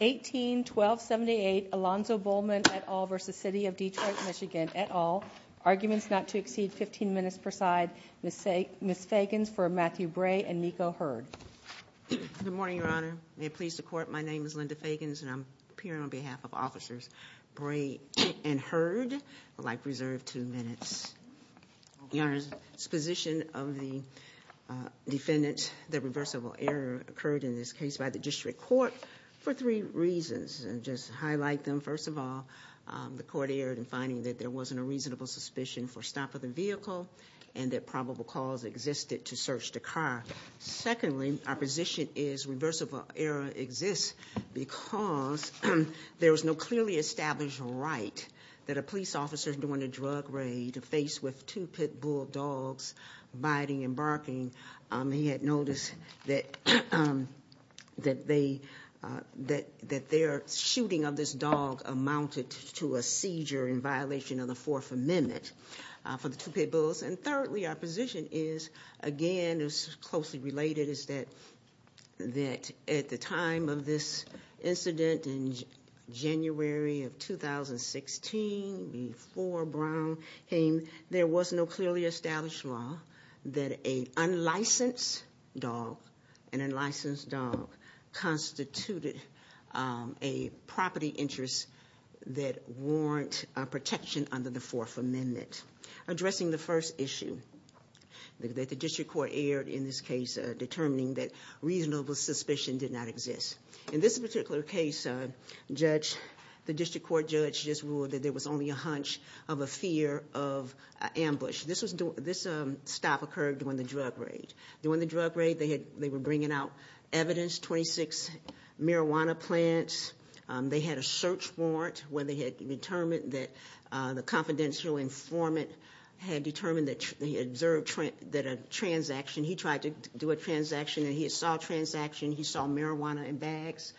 18-1278 Alonzo Bullman et al. v. City of Detroit MI et al. Arguments not to exceed 15 minutes per side. Ms. Fagans for Matthew Bray and Nico Hurd. Good morning, Your Honor. May it please the Court, my name is Linda Fagans and I'm appearing on behalf of Officers Bray and Hurd. I'd like to reserve two minutes. Your Honor, the position of the defendant, the reversible error occurred in this case by the district court for three reasons. I'll just highlight them. First of all, the court erred in finding that there wasn't a reasonable suspicion for stop of the vehicle and that probable cause existed to search the car. Secondly, our position is reversible error exists because there was no clearly established right that a police officer during a drug raid faced with two pit bull dogs biting and barking. He had noticed that their shooting of this dog amounted to a seizure in violation of the Fourth Amendment for the two pit bulls. And thirdly, our position is, again, is closely related, is that at the time of this incident in January of 2016 before Brown came, there was no clearly established law that a unlicensed dog, an unlicensed dog, constituted a property interest that warranted protection under the Fourth Amendment. Addressing the first issue, that the district court erred in this case determining that reasonable suspicion did not exist. In this particular case, the district court judge just ruled that there was only a hunch of a fear of ambush. This stop occurred during the drug raid. During the drug raid, they were bringing out evidence, 26 marijuana plants. They had a search warrant where they had determined that the confidential informant had determined that he observed that a transaction. He tried to do a transaction and he saw a transaction. He saw marijuana in bags.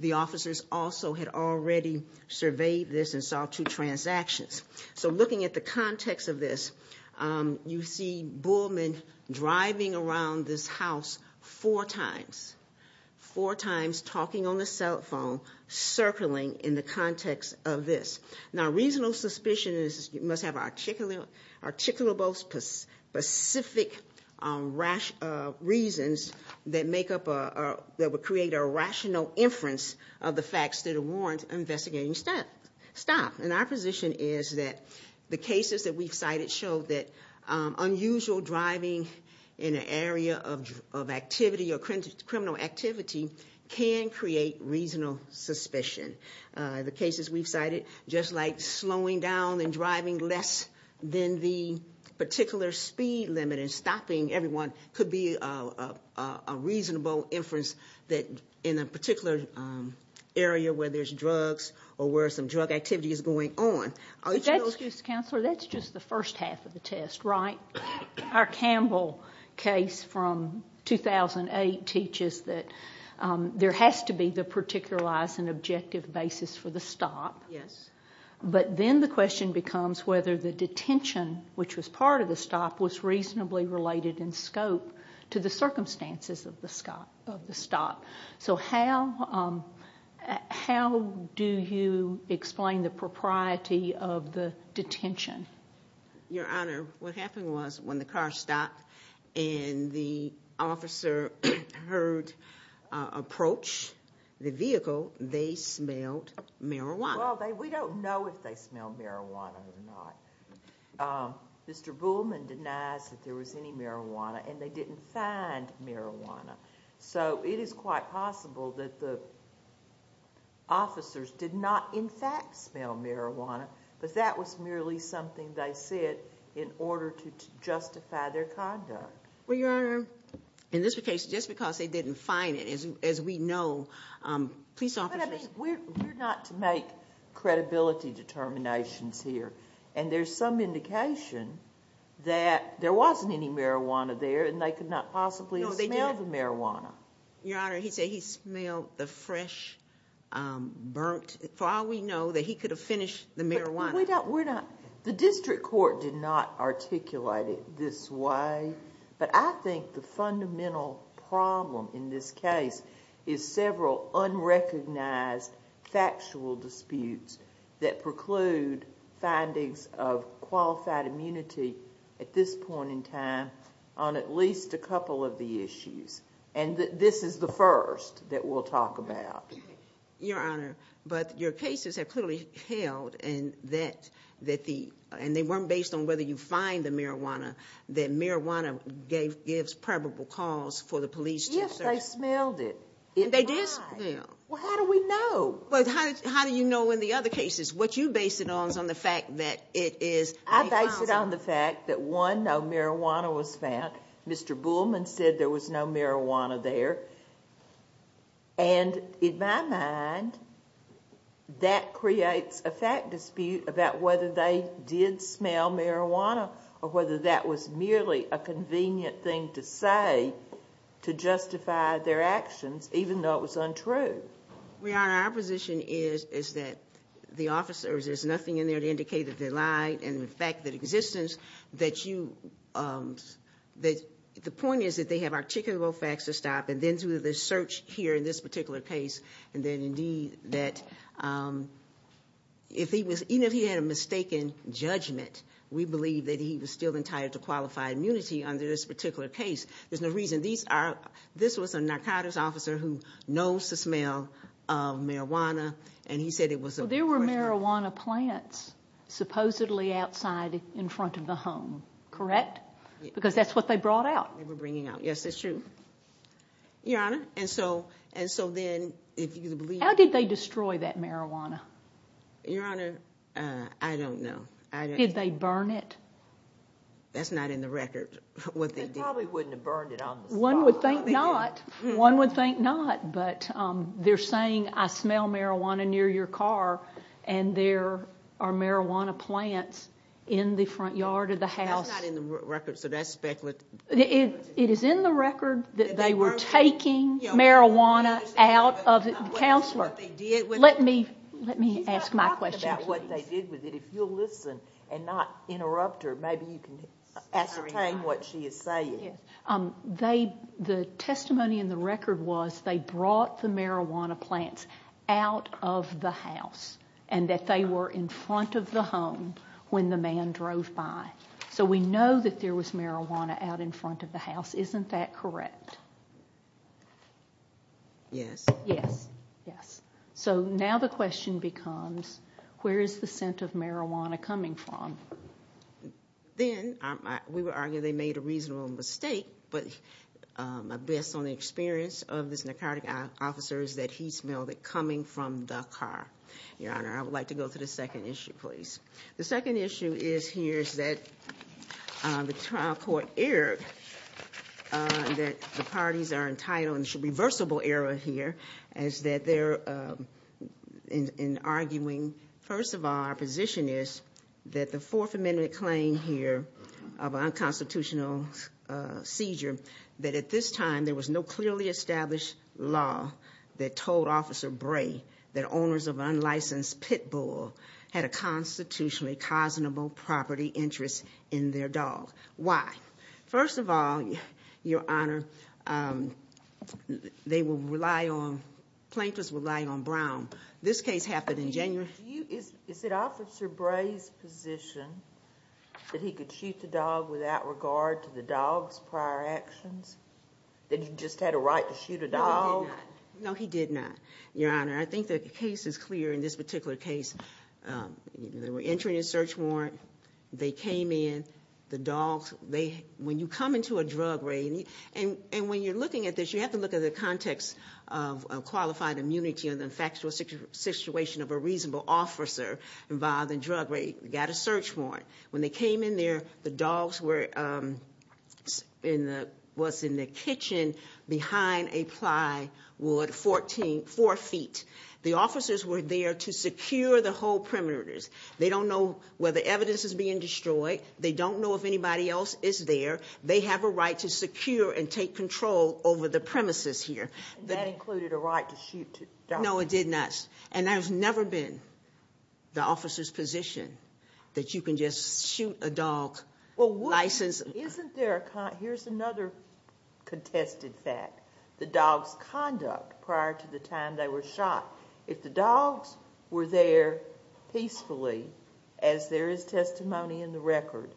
The officers also had already surveyed this and saw two transactions. So looking at the context of this, you see Bullman driving around this house four times. Four times, talking on the cell phone, circling in the context of this. Now, reasonable suspicion must have articulables, specific reasons that would create a rational inference of the facts that warrant investigating the stop. And our position is that the cases that we've cited show that unusual driving in an area of activity or criminal activity can create reasonable suspicion. The cases we've cited, just like slowing down and driving less than the particular speed limit and stopping everyone, could be a reasonable inference that in a particular area where there's drugs or where some drug activity is going on. Excuse me, Counselor, that's just the first half of the test, right? Our Campbell case from 2008 teaches that there has to be the particularized and objective basis for the stop. Yes. But then the question becomes whether the detention, which was part of the stop, was reasonably related in scope to the circumstances of the stop. So how do you explain the propriety of the detention? Your Honor, what happened was when the car stopped and the officer heard approach the vehicle, they smelled marijuana. Well, we don't know if they smelled marijuana or not. Mr. Bullman denies that there was any marijuana, and they didn't find marijuana. So it is quite possible that the officers did not, in fact, smell marijuana, but that was merely something they said in order to justify their conduct. Well, Your Honor, in this case, just because they didn't find it, as we know, police officers— But, I mean, we're not to make credibility determinations here, and there's some indication that there wasn't any marijuana there and they could not possibly have smelled the marijuana. Your Honor, he said he smelled the fresh, burnt—for all we know, that he could have finished the marijuana. But we're not—the district court did not articulate it this way, but I think the fundamental problem in this case is several unrecognized factual disputes that preclude findings of qualified immunity at this point in time on at least a couple of the issues. And this is the first that we'll talk about. Your Honor, but your cases have clearly held, and they weren't based on whether you find the marijuana, that marijuana gives probable cause for the police to search— Yes, they smelled it. They did smell. Well, how do we know? Well, how do you know in the other cases? What you base it on is on the fact that it is— I base it on the fact that, one, no marijuana was found. Mr. Buhlmann said there was no marijuana there. And in my mind, that creates a fact dispute about whether they did smell marijuana or whether that was merely a convenient thing to say to justify their actions, even though it was untrue. Your Honor, our position is that the officers, there's nothing in there to indicate that they lied, and the fact that existence that you—the point is that they have articulable facts to stop and then do the search here in this particular case. And then, indeed, that even if he had a mistaken judgment, we believe that he was still entitled to qualified immunity under this particular case. There's no reason. These are—this was a narcotics officer who knows the smell of marijuana, and he said it was a— Well, there were marijuana plants supposedly outside in front of the home, correct? Because that's what they brought out. They were bringing out—yes, that's true. Your Honor, and so then if you believe— How did they destroy that marijuana? Your Honor, I don't know. Did they burn it? That's not in the record, what they did. They probably wouldn't have burned it on the spot. One would think not. One would think not, but they're saying, I smell marijuana near your car, and there are marijuana plants in the front yard of the house. That's not in the record, so that's speculative. It is in the record that they were taking marijuana out of the counselor. Let me ask my question, please. She's not talking about what they did with it. If you'll listen and not interrupt her, maybe you can ascertain what she is saying. The testimony in the record was they brought the marijuana plants out of the house and that they were in front of the home when the man drove by. So we know that there was marijuana out in front of the house. Isn't that correct? Yes. Yes, yes. So now the question becomes, where is the scent of marijuana coming from? Then we would argue they made a reasonable mistake, but my best on the experience of this narcotic officer is that he smelled it coming from the car. Your Honor, I would like to go to the second issue, please. The second issue is here is that the trial court erred that the parties are entitled, and it's a reversible error here, is that they're arguing, first of all, our position is that the Fourth Amendment claim here of unconstitutional seizure, that at this time there was no clearly established law that told Officer Bray that owners of an unlicensed pit bull had a constitutionally cosmopolitan property interest in their dog. Why? First of all, Your Honor, they will rely on, plaintiffs rely on Brown. This case happened in January. Is it Officer Bray's position that he could shoot the dog without regard to the dog's prior actions, that he just had a right to shoot a dog? No, he did not. No, he did not, Your Honor. I think the case is clear in this particular case. They were entering a search warrant. They came in, the dogs, when you come into a drug raid, and when you're looking at this, you have to look at the context of qualified immunity and the factual situation of a reasonable officer involved in a drug raid. They got a search warrant. When they came in there, the dogs were in what's in the kitchen behind a plywood, four feet. The officers were there to secure the whole perimeters. They don't know whether evidence is being destroyed. They don't know if anybody else is there. They have a right to secure and take control over the premises here. And that included a right to shoot the dog? No, it did not. And there's never been the officer's position that you can just shoot a dog. Well, wouldn't you? License. Isn't there a con? Here's another contested fact. The dog's conduct prior to the time they were shot, if the dogs were there peacefully, as there is testimony in the record,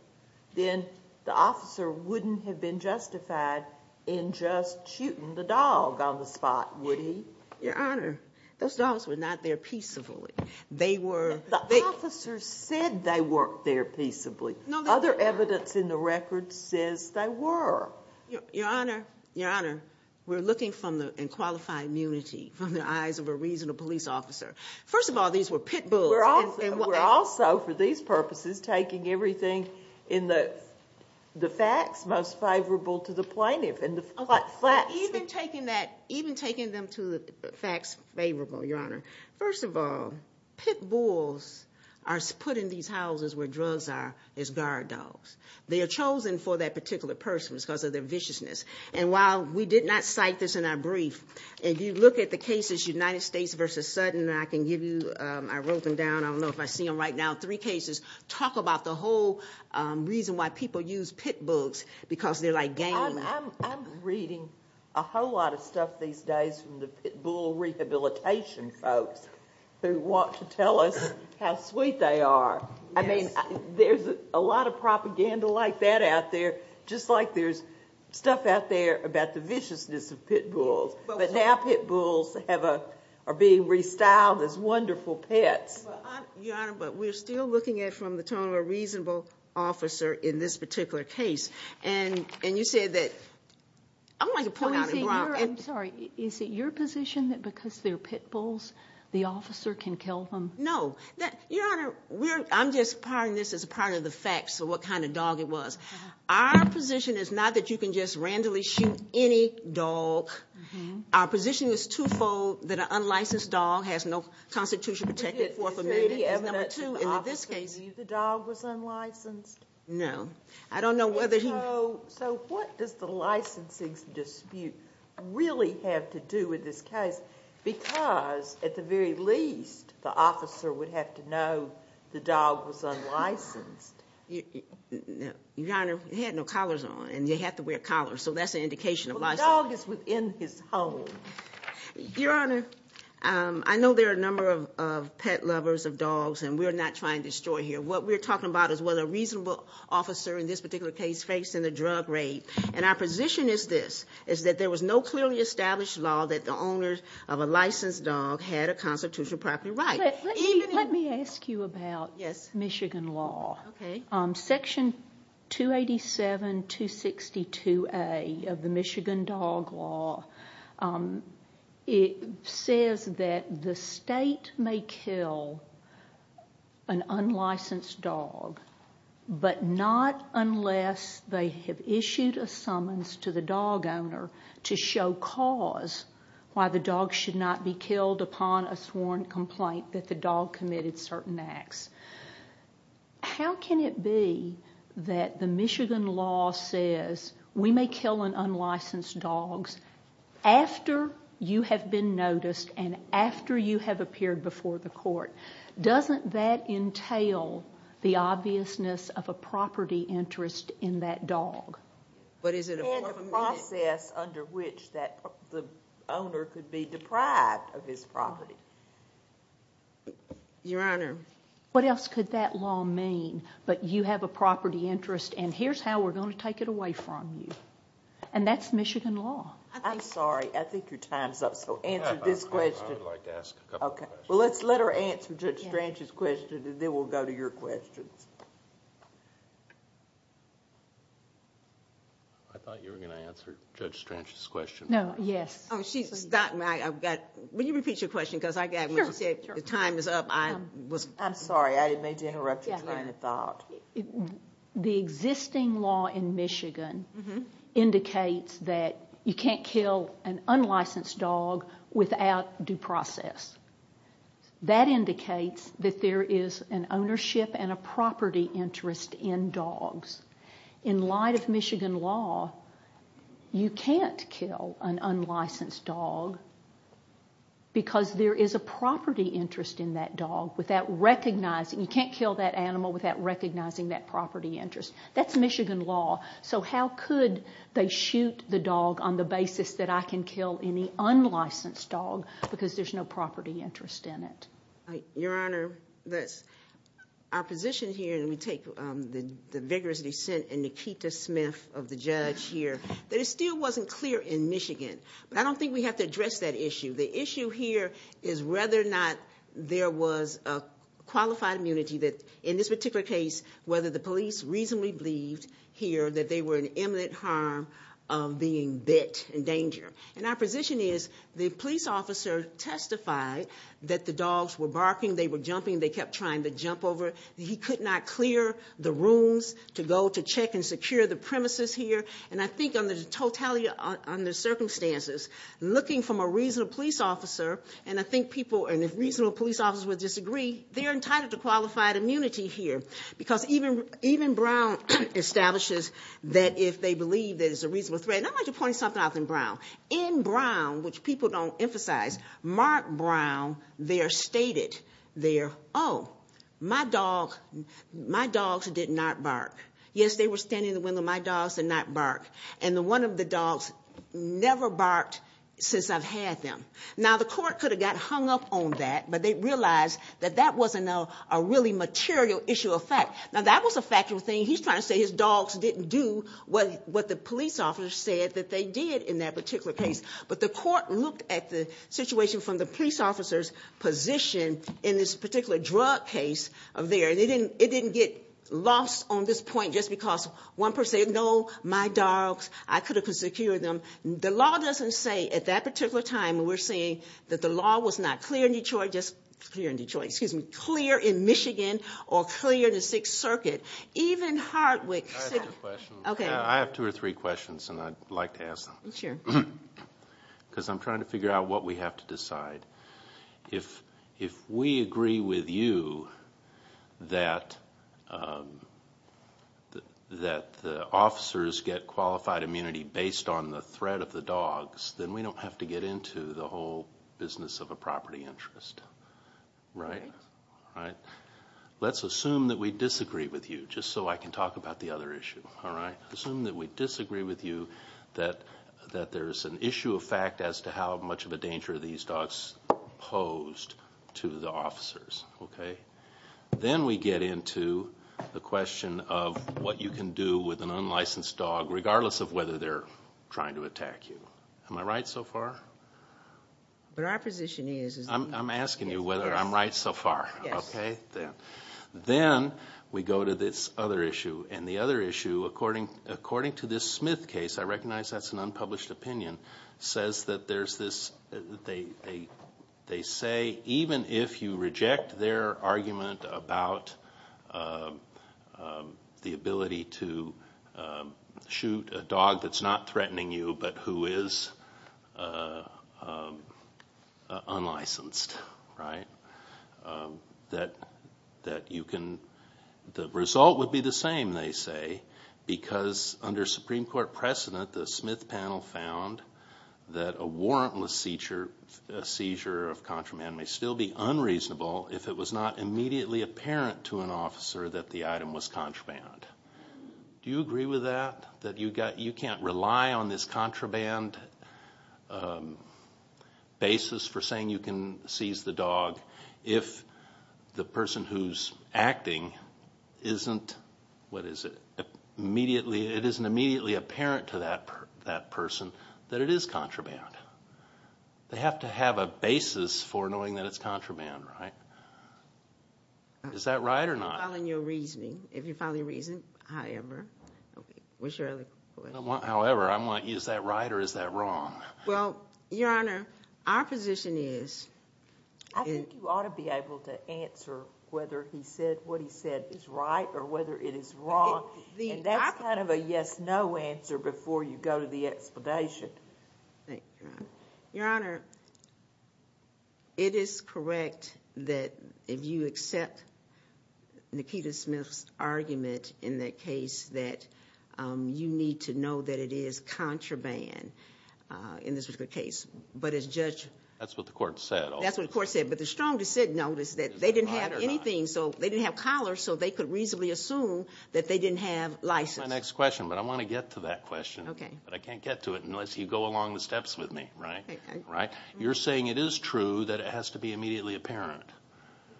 then the officer wouldn't have been justified in just shooting the dog on the spot, would he? Your Honor, those dogs were not there peacefully. The officers said they weren't there peacefully. Other evidence in the record says they were. Your Honor, we're looking in qualifying immunity from the eyes of a reasonable police officer. First of all, these were pit bulls. We're also, for these purposes, taking everything in the facts most favorable to the plaintiff. Even taking them to the facts favorable, Your Honor. First of all, pit bulls are put in these houses where drugs are as guard dogs. They are chosen for that particular person because of their viciousness. And while we did not cite this in our brief, if you look at the cases, United States v. Sutton, I can give you, I wrote them down, I don't know if I see them right now, three cases, talk about the whole reason why people use pit bulls, because they're like gambling. I'm reading a whole lot of stuff these days from the pit bull rehabilitation folks who want to tell us how sweet they are. I mean, there's a lot of propaganda like that out there, just like there's stuff out there about the viciousness of pit bulls. But now pit bulls are being restyled as wonderful pets. Your Honor, but we're still looking at it from the tone of a reasonable officer in this particular case. And you said that... I'm sorry, is it your position that because they're pit bulls, the officer can kill them? No. Your Honor, I'm just parting this as part of the facts of what kind of dog it was. Our position is not that you can just randomly shoot any dog. Our position is twofold, that an unlicensed dog has no constitution to protect it. Is there any evidence that the officer knew the dog was unlicensed? No. I don't know whether he... So what does the licensing dispute really have to do with this case? Because at the very least, the officer would have to know the dog was unlicensed. Your Honor, he had no collars on, and you have to wear collars, so that's an indication of licensing. Well, the dog is within his home. Your Honor, I know there are a number of pet lovers of dogs, and we're not trying to destroy here. What we're talking about is whether a reasonable officer in this particular case faced in a drug rape. And our position is this, is that there was no clearly established law that the owner of a licensed dog had a constitutional property right. Let me ask you about Michigan law. Okay. Section 287262A of the Michigan Dog Law, it says that the state may kill an unlicensed dog, but not unless they have issued a summons to the dog owner to show cause why the dog should not be killed upon a sworn complaint that the dog committed certain acts. How can it be that the Michigan law says, we may kill an unlicensed dog after you have been noticed and after you have appeared before the court? Doesn't that entail the obviousness of a property interest in that dog? But is it a form of amnesty? And the process under which the owner could be deprived of his property. Your Honor. What else could that law mean? But you have a property interest, and here's how we're going to take it away from you. And that's Michigan law. I'm sorry. I think your time's up. So answer this question. I would like to ask a couple questions. Well, let's let her answer Judge Strange's question, and then we'll go to your questions. I thought you were going to answer Judge Strange's question. No. Yes. She's stopped me. Will you repeat your question? The time is up. I'm sorry. I didn't mean to interrupt you trying to thought. The existing law in Michigan indicates that you can't kill an unlicensed dog without due process. That indicates that there is an ownership and a property interest in dogs. In light of Michigan law, you can't kill an unlicensed dog because there is a property interest in that dog. You can't kill that animal without recognizing that property interest. That's Michigan law. So how could they shoot the dog on the basis that I can kill any unlicensed dog because there's no property interest in it? Your Honor, our position here, and we take the vigorous dissent in Nikita Smith of the judge here, that it still wasn't clear in Michigan. But I don't think we have to address that issue. The issue here is whether or not there was a qualified immunity that, in this particular case, whether the police reasonably believed here that they were in imminent harm of being bit in danger. And our position is the police officer testified that the dogs were barking, they were jumping, they kept trying to jump over. He could not clear the rooms to go to check and secure the premises here. And I think on the totality, on the circumstances, looking from a reasonable police officer, and I think people, and if reasonable police officers would disagree, they're entitled to qualified immunity here. Because even Brown establishes that if they believe there's a reasonable threat. And I want to point something out in Brown. In Brown, which people don't emphasize, Mark Brown there stated there, oh, my dogs did not bark. Yes, they were standing in the window. My dogs did not bark. And one of the dogs never barked since I've had them. Now, the court could have got hung up on that, but they realized that that wasn't a really material issue of fact. Now, that was a factual thing. He's trying to say his dogs didn't do what the police officer said that they did in that particular case. But the court looked at the situation from the police officer's position in this particular drug case of theirs. It didn't get lost on this point just because one person said, no, my dogs, I could have secured them. The law doesn't say at that particular time, we're saying that the law was not clear in Detroit, just clear in Detroit. Excuse me, clear in Michigan or clear in the Sixth Circuit. Even Hartwick City. I have two or three questions, and I'd like to ask them. Sure. Because I'm trying to figure out what we have to decide. If we agree with you that the officers get qualified immunity based on the threat of the dogs, then we don't have to get into the whole business of a property interest. Right? Right. Let's assume that we disagree with you, just so I can talk about the other issue. All right? Assume that we disagree with you that there's an issue of fact as to how much of a danger these dogs posed to the officers. Okay? Then we get into the question of what you can do with an unlicensed dog, regardless of whether they're trying to attack you. Am I right so far? What our position is is that- I'm asking you whether I'm right so far. Yes. Okay? Then we go to this other issue. And the other issue, according to this Smith case, I recognize that's an unpublished opinion, says that there's this-they say even if you reject their argument about the ability to shoot a dog that's not threatening you but who is unlicensed, right? That you can-the result would be the same, they say, because under Supreme Court precedent, the Smith panel found that a warrantless seizure of contraband may still be unreasonable if it was not immediately apparent to an officer that the item was contraband. Do you agree with that? That you can't rely on this contraband basis for saying you can seize the dog if the person who's acting isn't-what is it? Immediately-it isn't immediately apparent to that person that it is contraband. They have to have a basis for knowing that it's contraband, right? Is that right or not? If you're following your reasoning, however. What's your other question? However. Is that right or is that wrong? Well, Your Honor, our position is- I think you ought to be able to answer whether he said what he said is right or whether it is wrong. That's kind of a yes-no answer before you go to the explanation. Thank you, Your Honor. Your Honor, it is correct that if you accept Nikita Smith's argument in that case that you need to know that it is contraband in this particular case. But as Judge- That's what the court said. That's what the court said. But the strongest said, no, is that they didn't have anything. So they didn't have collars, so they could reasonably assume that they didn't have license. That's my next question, but I want to get to that question. Okay. But I can't get to it unless you go along the steps with me, right? Okay. You're saying it is true that it has to be immediately apparent.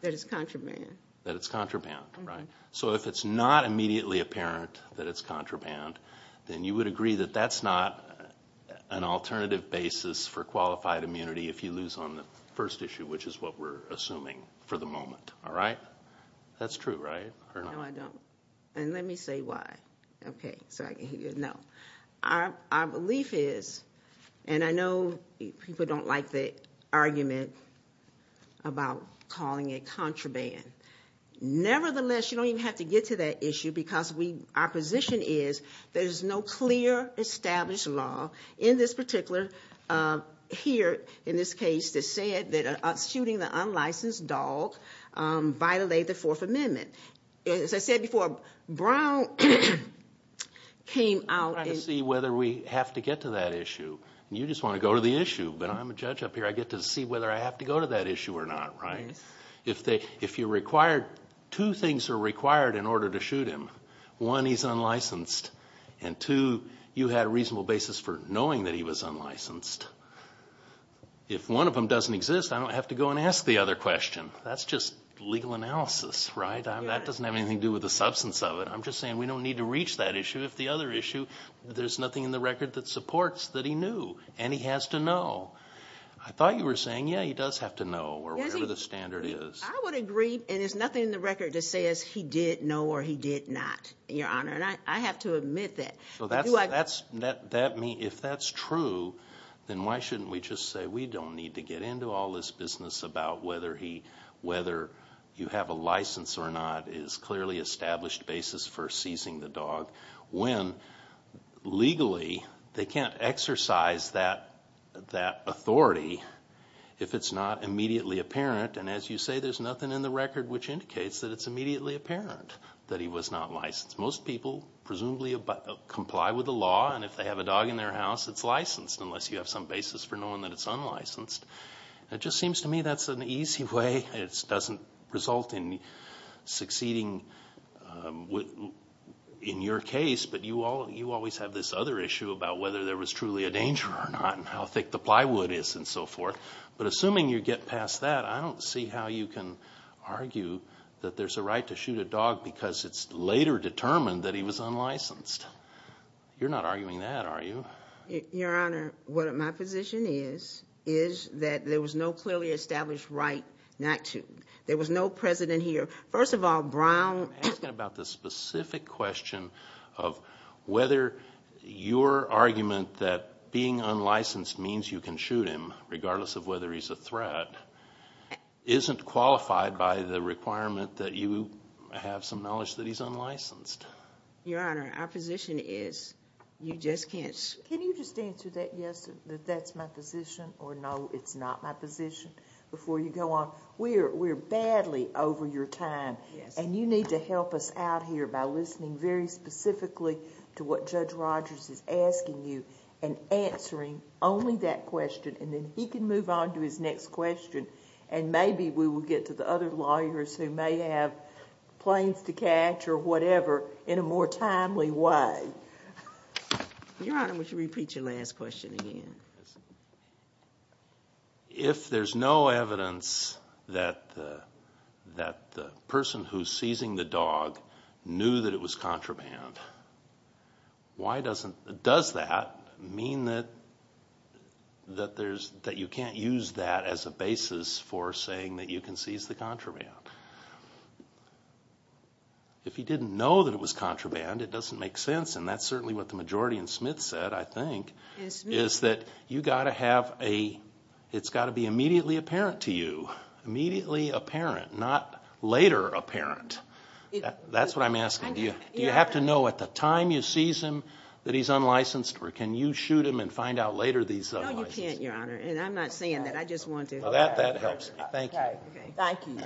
That it's contraband. That it's contraband, right? So if it's not immediately apparent that it's contraband, then you would agree that that's not an alternative basis for qualified immunity if you lose on the first issue, which is what we're assuming for the moment, all right? That's true, right? No, I don't. And let me say why. Okay. So I can give you a note. Our belief is, and I know people don't like the argument about calling it contraband. Nevertheless, you don't even have to get to that issue because our position is there's no clear established law in this particular here, in this case, that said that shooting the unlicensed dog violated the Fourth Amendment. As I said before, Brown came out. I'm trying to see whether we have to get to that issue. You just want to go to the issue. But I'm a judge up here. I get to see whether I have to go to that issue or not, right? If you're required, two things are required in order to shoot him. One, he's unlicensed. And two, you had a reasonable basis for knowing that he was unlicensed. If one of them doesn't exist, I don't have to go and ask the other question. That's just legal analysis, right? That doesn't have anything to do with the substance of it. I'm just saying we don't need to reach that issue. If the other issue, there's nothing in the record that supports that he knew and he has to know. I thought you were saying, yeah, he does have to know or whatever the standard is. I would agree. And there's nothing in the record that says he did know or he did not, Your Honor. And I have to admit that. If that's true, then why shouldn't we just say we don't need to get into all this business about whether you have a license or not is clearly established basis for seizing the dog when legally they can't exercise that authority if it's not immediately apparent. And as you say, there's nothing in the record which indicates that it's immediately apparent that he was not licensed. Most people presumably comply with the law. And if they have a dog in their house, it's licensed unless you have some basis for knowing that it's unlicensed. It just seems to me that's an easy way. It doesn't result in succeeding in your case. But you always have this other issue about whether there was truly a danger or not and how thick the plywood is and so forth. But assuming you get past that, I don't see how you can argue that there's a right to shoot a dog because it's later determined that he was unlicensed. You're not arguing that, are you? Your Honor, my position is that there was no clearly established right not to. There was no precedent here. First of all, Brown asked about the specific question of whether your argument that being unlicensed means you can shoot him regardless of whether he's a threat isn't qualified by the requirement that you have some knowledge that he's unlicensed. Your Honor, our position is you just can't... Can you just answer that yes, that that's my position, or no, it's not my position, before you go on? We're badly over your time, and you need to help us out here by listening very specifically to what Judge Rogers is asking you and answering only that question, and then he can move on to his next question, and maybe we will get to the other lawyers who may have planes to catch or whatever in a more timely way. Your Honor, would you repeat your last question again? If there's no evidence that the person who's seizing the dog knew that it was contraband, does that mean that you can't use that as a basis for saying that you can seize the contraband? If he didn't know that it was contraband, it doesn't make sense, and that's certainly what the majority in Smith said, I think, is that it's got to be immediately apparent to you, immediately apparent, not later apparent. That's what I'm asking. Do you have to know at the time you seize him that he's unlicensed, or can you shoot him and find out later that he's unlicensed? No, you can't, Your Honor, and I'm not saying that. I just want to... Well, that helps me. Thank you. Thank you.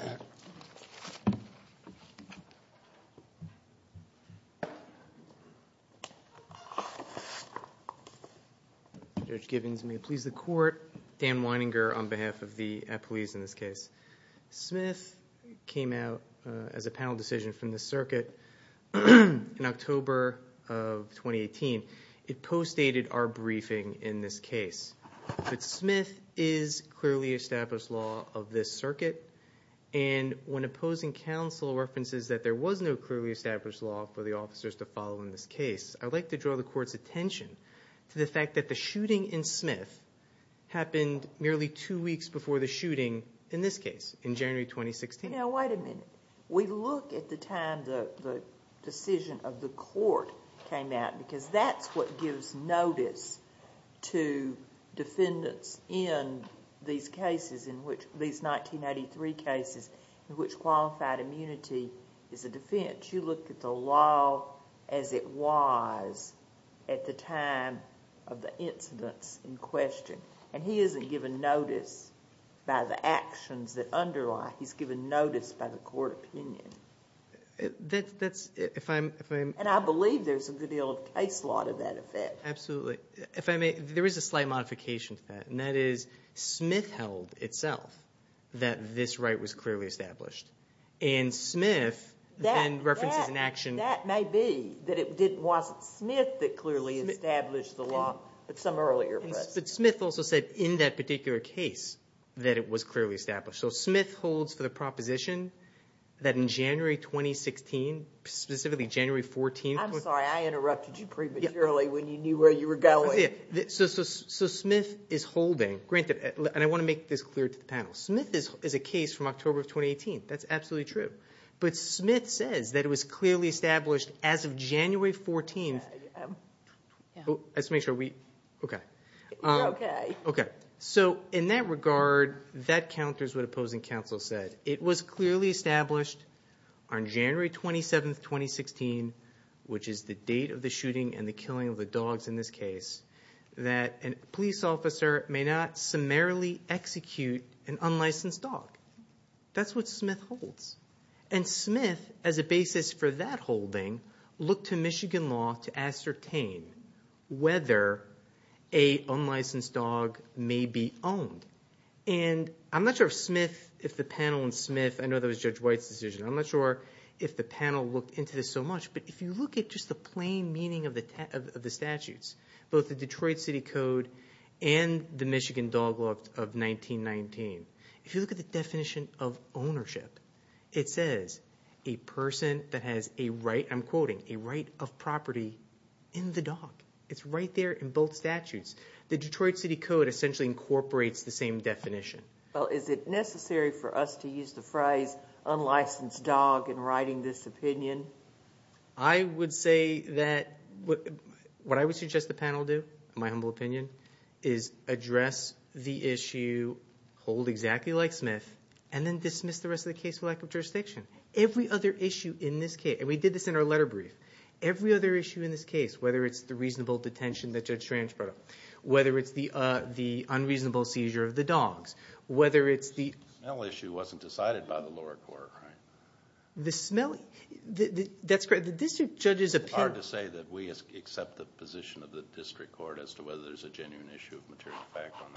Judge Gibbons, may it please the Court. Dan Weininger on behalf of the police in this case. Smith came out as a panel decision from the circuit in October of 2018. It postdated our briefing in this case. But Smith is clearly established law of this circuit, and when opposing counsel references that there was no clearly established law for the officers to follow in this case, I'd like to draw the Court's attention to the fact that the shooting in Smith happened merely two weeks before the shooting in this case, in January 2016. Now, wait a minute. We look at the time the decision of the Court came out, because that's what gives notice to defendants in these cases in which... these 1983 cases in which qualified immunity is a defense. But you looked at the law as it was at the time of the incidents in question, and he isn't given notice by the actions that underlie. He's given notice by the Court opinion. That's... And I believe there's a good deal of case law to that effect. Absolutely. If I may, there is a slight modification to that, and that is Smith held itself that this right was clearly established, and Smith then references an action... That may be that it wasn't Smith that clearly established the law, but some earlier person. But Smith also said in that particular case that it was clearly established. So Smith holds for the proposition that in January 2016, specifically January 14... I'm sorry. I interrupted you prematurely when you knew where you were going. So Smith is holding... granted, and I want to make this clear to the panel. Smith is a case from October of 2018. That's absolutely true. But Smith says that it was clearly established as of January 14. Let's make sure we... okay. You're okay. Okay. So in that regard, that counters what opposing counsel said. It was clearly established on January 27, 2016, which is the date of the shooting and the killing of the dogs in this case, that a police officer may not summarily execute an unlicensed dog. That's what Smith holds. And Smith, as a basis for that holding, looked to Michigan law to ascertain whether a unlicensed dog may be owned. And I'm not sure if Smith, if the panel on Smith... I know that was Judge White's decision. I'm not sure if the panel looked into this so much. But if you look at just the plain meaning of the statutes, both the Detroit City Code and the Michigan Dog Law of 1919, if you look at the definition of ownership, it says a person that has a right, I'm quoting, a right of property in the dog. It's right there in both statutes. The Detroit City Code essentially incorporates the same definition. Well, is it necessary for us to use the phrase unlicensed dog in writing this opinion? I would say that what I would suggest the panel do, in my humble opinion, is address the issue, hold exactly like Smith, and then dismiss the rest of the case for lack of jurisdiction. Every other issue in this case, and we did this in our letter brief, every other issue in this case, whether it's the reasonable detention that Judge Strange brought up, whether it's the unreasonable seizure of the dogs, whether it's the... The smell issue wasn't decided by the lower court, right? The smell? That's correct. The district judge's opinion... It's hard to say that we accept the position of the district court as to whether there's a genuine issue of material fact on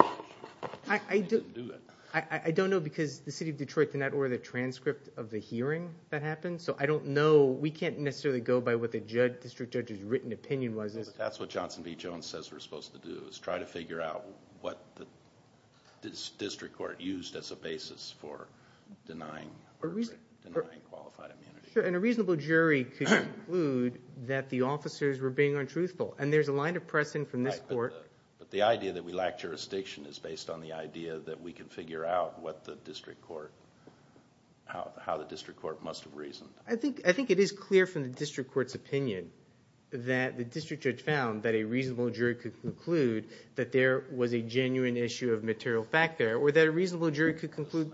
the issue. We didn't do that. I don't know because the City of Detroit did not order the transcript of the hearing that happened, so I don't know. We can't necessarily go by what the district judge's written opinion was. That's what Johnson v. Jones says we're supposed to do, is try to figure out what the district court used as a basis for denying... For denying qualified immunity. And a reasonable jury could conclude that the officers were being untruthful, and there's a line of pressing from this court... But the idea that we lack jurisdiction is based on the idea that we can figure out what the district court... how the district court must have reasoned. I think it is clear from the district court's opinion that the district judge found that a reasonable jury could conclude that there was a genuine issue of material fact there, or that a reasonable jury could conclude...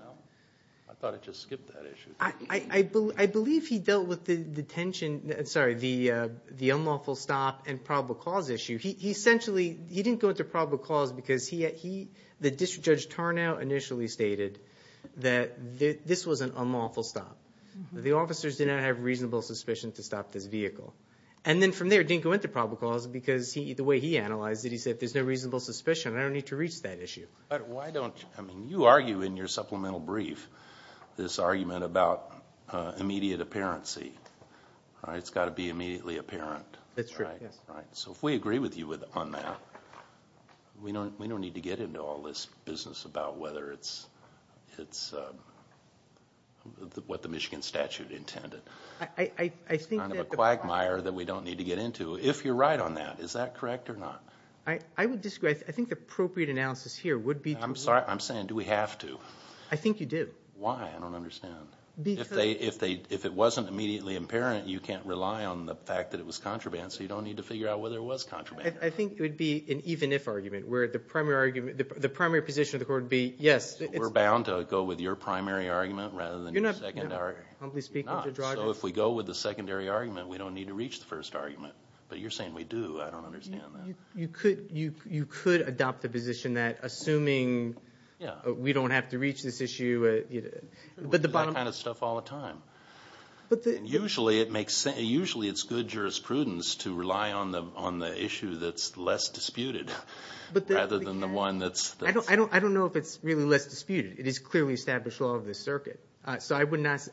I thought I just skipped that issue. I believe he dealt with the tension... sorry, the unlawful stop and probable cause issue. He essentially... he didn't go into probable cause because he... the district judge Tarnow initially stated that this was an unlawful stop. The officers did not have reasonable suspicion to stop this vehicle. And then from there, didn't go into probable cause because the way he analyzed it, he said there's no reasonable suspicion. I don't need to reach that issue. Why don't... I mean, you argue in your supplemental brief, this argument about immediate apparency. It's got to be immediately apparent. That's true, yes. So if we agree with you on that, we don't need to get into all this business about whether it's... what the Michigan statute intended. I think that... It's kind of a quagmire that we don't need to get into, if you're right on that. Is that correct or not? I would disagree. I think the appropriate analysis here would be... I'm sorry. I'm saying, do we have to? I think you do. Why? I don't understand. Because... If it wasn't immediately apparent, you can't rely on the fact that it was contraband, so you don't need to figure out whether it was contraband. I think it would be an even-if argument where the primary position of the court would be, yes, it's... We're bound to go with your primary argument rather than... You're not humbly speaking to Drogba. So if we go with the secondary argument, we don't need to reach the first argument. But you're saying we do. I don't understand that. You could adopt the position that assuming we don't have to reach this issue... We do that kind of stuff all the time. Usually it's good jurisprudence to rely on the issue that's less disputed rather than the one that's... I don't know if it's really less disputed. It is clearly established law of the circuit. So I would not,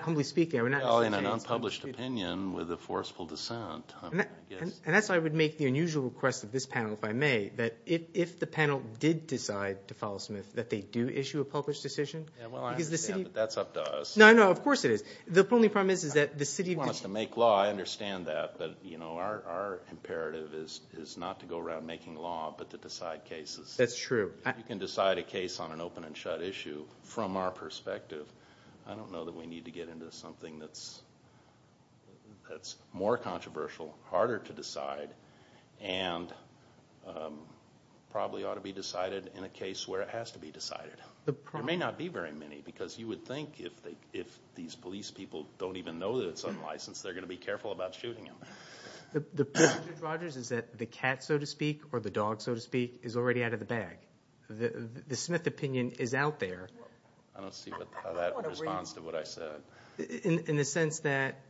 humbly speaking... Well, in an unpublished opinion with a forceful dissent, I guess. And that's why I would make the unusual request of this panel, if I may, that if the panel did decide to follow Smith, that they do issue a published decision. Yeah, well, I understand, but that's up to us. No, no, of course it is. The only problem is that the city... If you want us to make law, I understand that. But, you know, our imperative is not to go around making law but to decide cases. That's true. If you can decide a case on an open and shut issue from our perspective, I don't know that we need to get into something that's more controversial, harder to decide, and probably ought to be decided in a case where it has to be decided. There may not be very many because you would think if these police people don't even know that it's unlicensed, they're going to be careful about shooting them. The problem, Judge Rogers, is that the cat, so to speak, or the dog, so to speak, is already out of the bag. The Smith opinion is out there. I don't see how that responds to what I said. In the sense that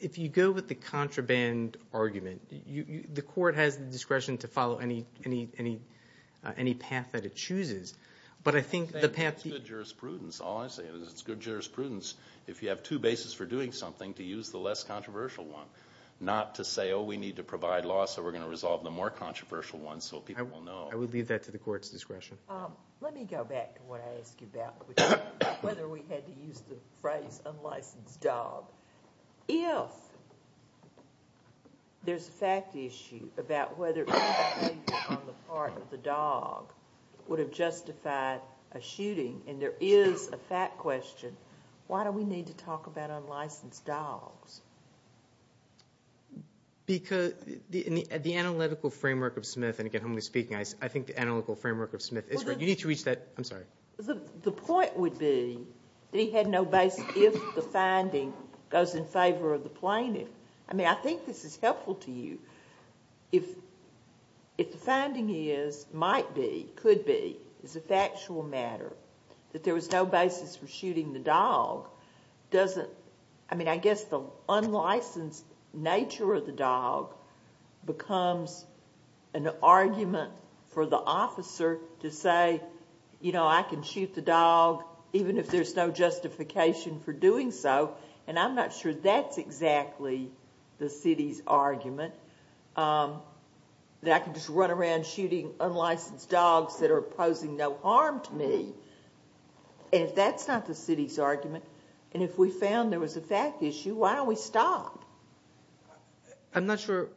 if you go with the contraband argument, the court has the discretion to follow any path that it chooses. But I think the path... It's good jurisprudence. All I'm saying is it's good jurisprudence if you have two bases for doing something to use the less controversial one, not to say, oh, we need to provide law so we're going to resolve the more controversial ones so people will know. I would leave that to the court's discretion. Let me go back to what I asked you about, whether we had to use the phrase unlicensed dog. If there's a fact issue about whether any behavior on the part of the dog would have justified a shooting, and there is a fact question, why do we need to talk about unlicensed dogs? Because the analytical framework of Smith, and again, humbly speaking, I think the analytical framework of Smith is right. You need to reach that... I'm sorry. The point would be that he had no basis if the finding goes in favor of the plaintiff. I mean, I think this is helpful to you. If the finding is, might be, could be, is a factual matter, that there was no basis for shooting the dog, doesn't... I mean, I guess the unlicensed nature of the dog becomes an argument for the officer to say, you know, I can shoot the dog even if there's no justification for doing so, and I'm not sure that's exactly the city's argument, that I can just run around shooting unlicensed dogs that are posing no harm to me. And if that's not the city's argument, and if we found there was a fact issue, why don't we stop? I'm not sure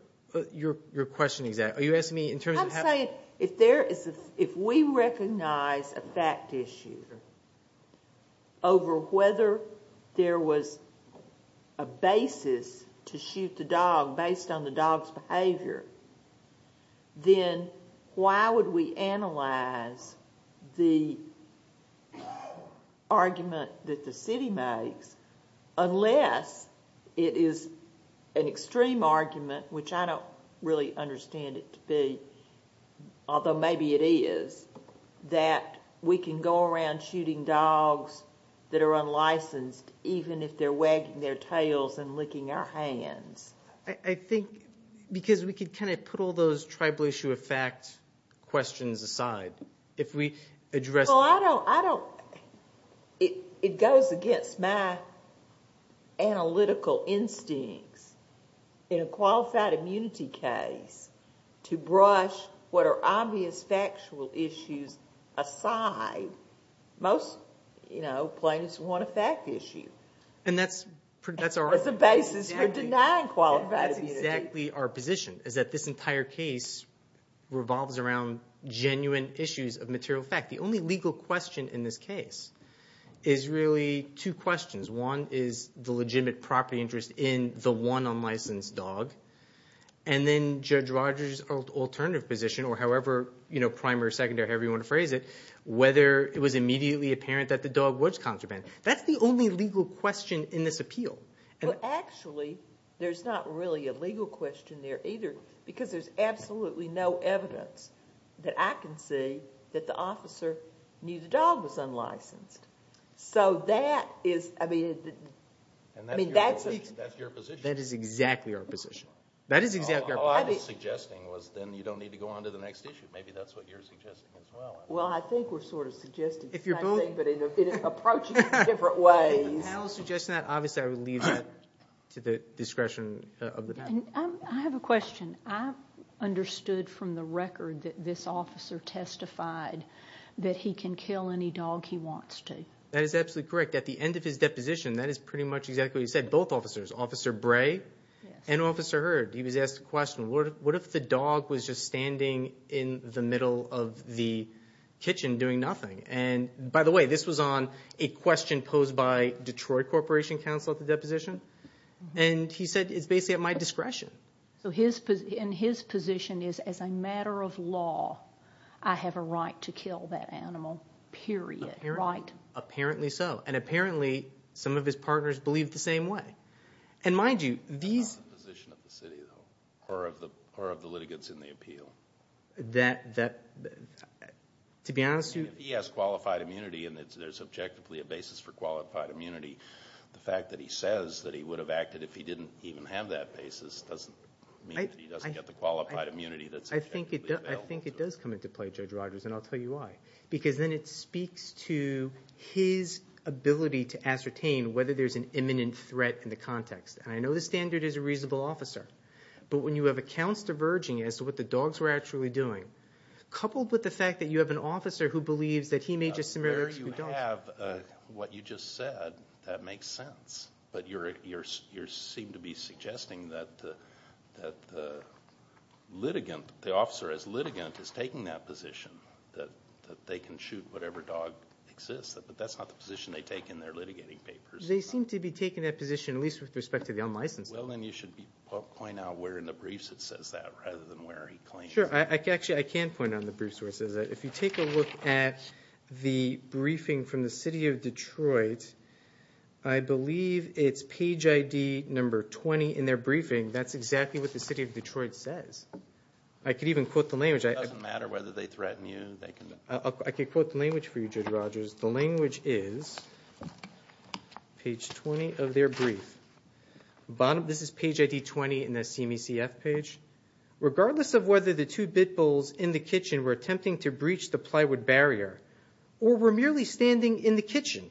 your question is that. Are you asking me in terms of... I'm saying if there is a... if we recognize a fact issue over whether there was a basis to shoot the dog argument that the city makes, unless it is an extreme argument, which I don't really understand it to be, although maybe it is, that we can go around shooting dogs that are unlicensed, even if they're wagging their tails and licking our hands. I think, because we could kind of put all those tribal issue of fact questions aside. If we address... Well, I don't... it goes against my analytical instincts. In a qualified immunity case, to brush what are obvious factual issues aside, most plaintiffs want a fact issue. And that's our... As a basis for denying qualified immunity. That's exactly our position, is that this entire case revolves around genuine issues of material fact. The only legal question in this case is really two questions. One is the legitimate property interest in the one unlicensed dog, and then Judge Rogers' alternative position, or however primary, secondary, however you want to phrase it, whether it was immediately apparent that the dog was contraband. That's the only legal question in this appeal. Well, actually, there's not really a legal question there either, because there's absolutely no evidence that I can see that the officer knew the dog was unlicensed. So that is... I mean, that's... And that's your position. That is exactly our position. That is exactly our... All I was suggesting was then you don't need to go on to the next issue. Maybe that's what you're suggesting as well. Well, I think we're sort of suggesting the same thing... If you're booing...... but in an approach in different ways. If I was suggesting that, obviously I would leave that to the discretion of the panel. I have a question. I understood from the record that this officer testified that he can kill any dog he wants to. That is absolutely correct. At the end of his deposition, that is pretty much exactly what he said. Both officers, Officer Bray and Officer Hurd, he was asked the question, what if the dog was just standing in the middle of the kitchen doing nothing? By the way, this was on a question posed by Detroit Corporation Counsel at the deposition. And he said, it's basically at my discretion. So his position is, as a matter of law, I have a right to kill that animal, period, right? Apparently so. And apparently some of his partners believe the same way. And mind you, these... That's not the position of the city, though, or of the litigants in the appeal. That... To be honest... If he has qualified immunity and there's objectively a basis for qualified immunity, the fact that he says that he would have acted if he didn't even have that basis doesn't mean that he doesn't get the qualified immunity that's objectively available to him. I think it does come into play, Judge Rogers, and I'll tell you why. Because then it speaks to his ability to ascertain whether there's an imminent threat in the context. And I know the standard is a reasonable officer. But when you have accounts diverging as to what the dogs were actually doing, coupled with the fact that you have an officer who believes that he may just similarly execute dogs... There you have what you just said. That makes sense. But you seem to be suggesting that the litigant, the officer as litigant, is taking that position, that they can shoot whatever dog exists. But that's not the position they take in their litigating papers. They seem to be taking that position at least with respect to the unlicensed. Well, then you should point out where in the briefs it says that rather than where he claims... Sure. Actually, I can point on the brief sources. If you take a look at the briefing from the city of Detroit, I believe it's page ID number 20 in their briefing. That's exactly what the city of Detroit says. I could even quote the language. It doesn't matter whether they threaten you. I could quote the language for you, Judge Rogers. The language is page 20 of their brief. This is page ID 20 in the CME-CF page. Regardless of whether the two bit bulls in the kitchen were attempting to breach the plywood barrier or were merely standing in the kitchen,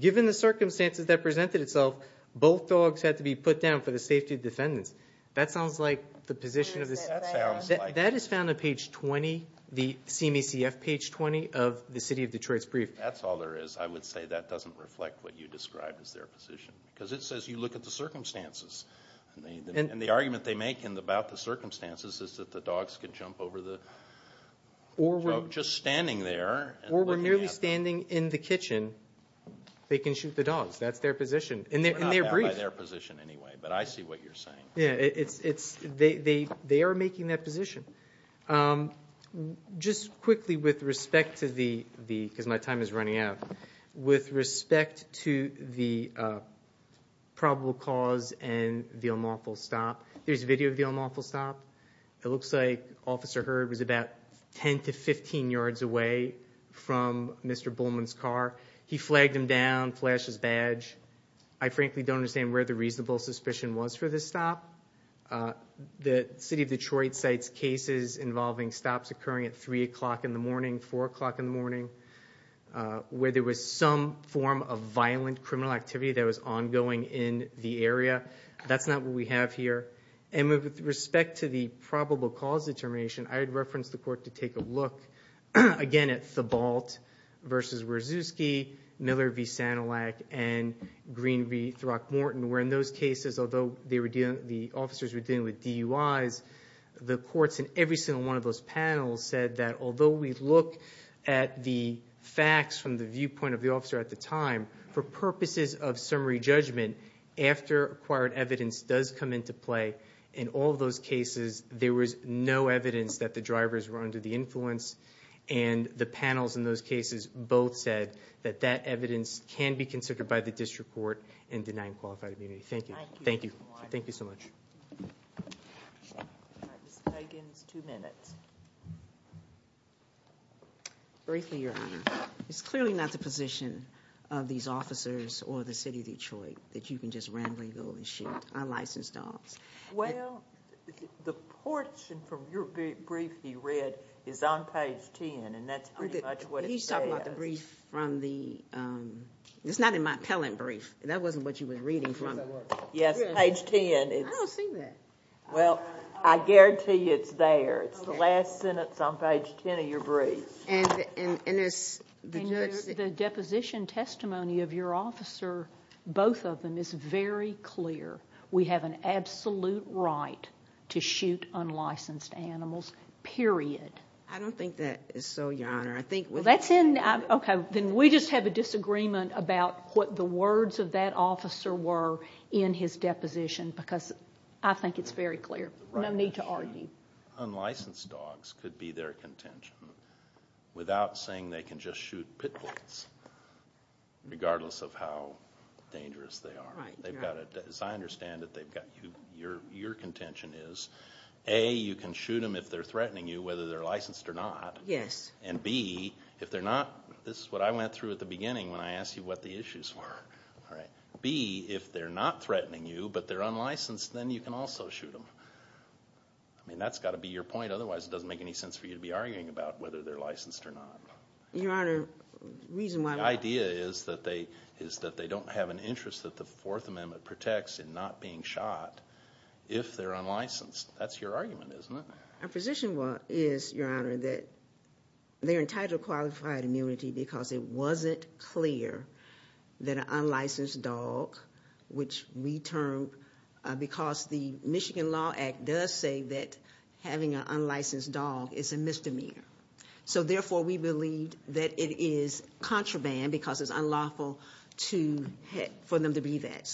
given the circumstances that presented itself, both dogs had to be put down for the safety of defendants. That sounds like the position of the... That sounds like... That is found on page 20, the CME-CF page 20 of the city of Detroit's brief. That's all there is. I would say that doesn't reflect what you described as their position because it says you look at the circumstances and the argument they make about the circumstances is that the dogs can jump over the... Or we're... Just standing there... Or we're merely standing in the kitchen. They can shoot the dogs. That's their position in their brief. Not by their position anyway, but I see what you're saying. Yeah, they are making that position. Just quickly with respect to the... because my time is running out. With respect to the probable cause and the unlawful stop, there's a video of the unlawful stop. It looks like Officer Hurd was about 10 to 15 yards away from Mr. Bowman's car. He flagged him down, flashed his badge. I frankly don't understand where the reasonable suspicion was for this stop. The city of Detroit cites cases involving stops occurring at 3 o'clock in the morning, 4 o'clock in the morning, where there was some form of violent criminal activity that was ongoing in the area. That's not what we have here. With respect to the probable cause determination, I would reference the court to take a look, again, at Thibault v. Wierzewski, Miller v. Sanilac, and Green v. Throckmorton, where in those cases, although the officers were dealing with DUIs, the courts in every single one of those panels said that although we look at the facts from the viewpoint of the officer at the time, for purposes of summary judgment, after acquired evidence does come into play, in all those cases, there was no evidence that the drivers were under the influence. The panels in those cases both said that that evidence can be considered by the district court in denying qualified immunity. Thank you. Thank you. Thank you so much. Briefly, Your Honor, it's clearly not the position of these officers or the city of Detroit that you can just randomly go and shift unlicensed dogs. Well, the portion from your brief you read is on page 10, and that's pretty much what it says. He's talking about the brief from the—it's not in my appellant brief. That wasn't what you were reading from. Yes, page 10. I don't see that. Well, I guarantee you it's there. It's the last sentence on page 10 of your brief. And the deposition testimony of your officer, both of them, is very clear. We have an absolute right to shoot unlicensed animals, period. I don't think that is so, Your Honor. Okay, then we just have a disagreement about what the words of that officer were in his deposition because I think it's very clear. No need to argue. Unlicensed dogs could be their contention without saying they can just shoot pit bulls, regardless of how dangerous they are. As I understand it, your contention is, A, you can shoot them if they're threatening you, whether they're licensed or not. Yes. And, B, if they're not—this is what I went through at the beginning when I asked you what the issues were. B, if they're not threatening you but they're unlicensed, then you can also shoot them. I mean, that's got to be your point. Otherwise, it doesn't make any sense for you to be arguing about whether they're licensed or not. Your Honor, the reason why— The idea is that they don't have an interest that the Fourth Amendment protects in not being shot if they're unlicensed. That's your argument, isn't it? Our position is, Your Honor, that they're entitled to qualified immunity because it wasn't clear that an unlicensed dog, which we termed— because the Michigan Law Act does say that having an unlicensed dog is a misdemeanor. Therefore, we believe that it is contraband because it's unlawful for them to be that.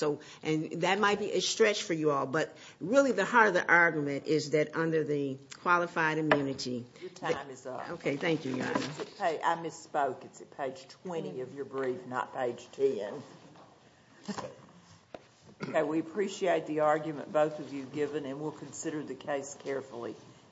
That might be a stretch for you all, but really the heart of the argument is that under the qualified immunity— Your time is up. Okay. Thank you, Your Honor. I misspoke. It's at page 20 of your brief, not page 10. Okay. We appreciate the argument both of you have given, and we'll consider the case carefully.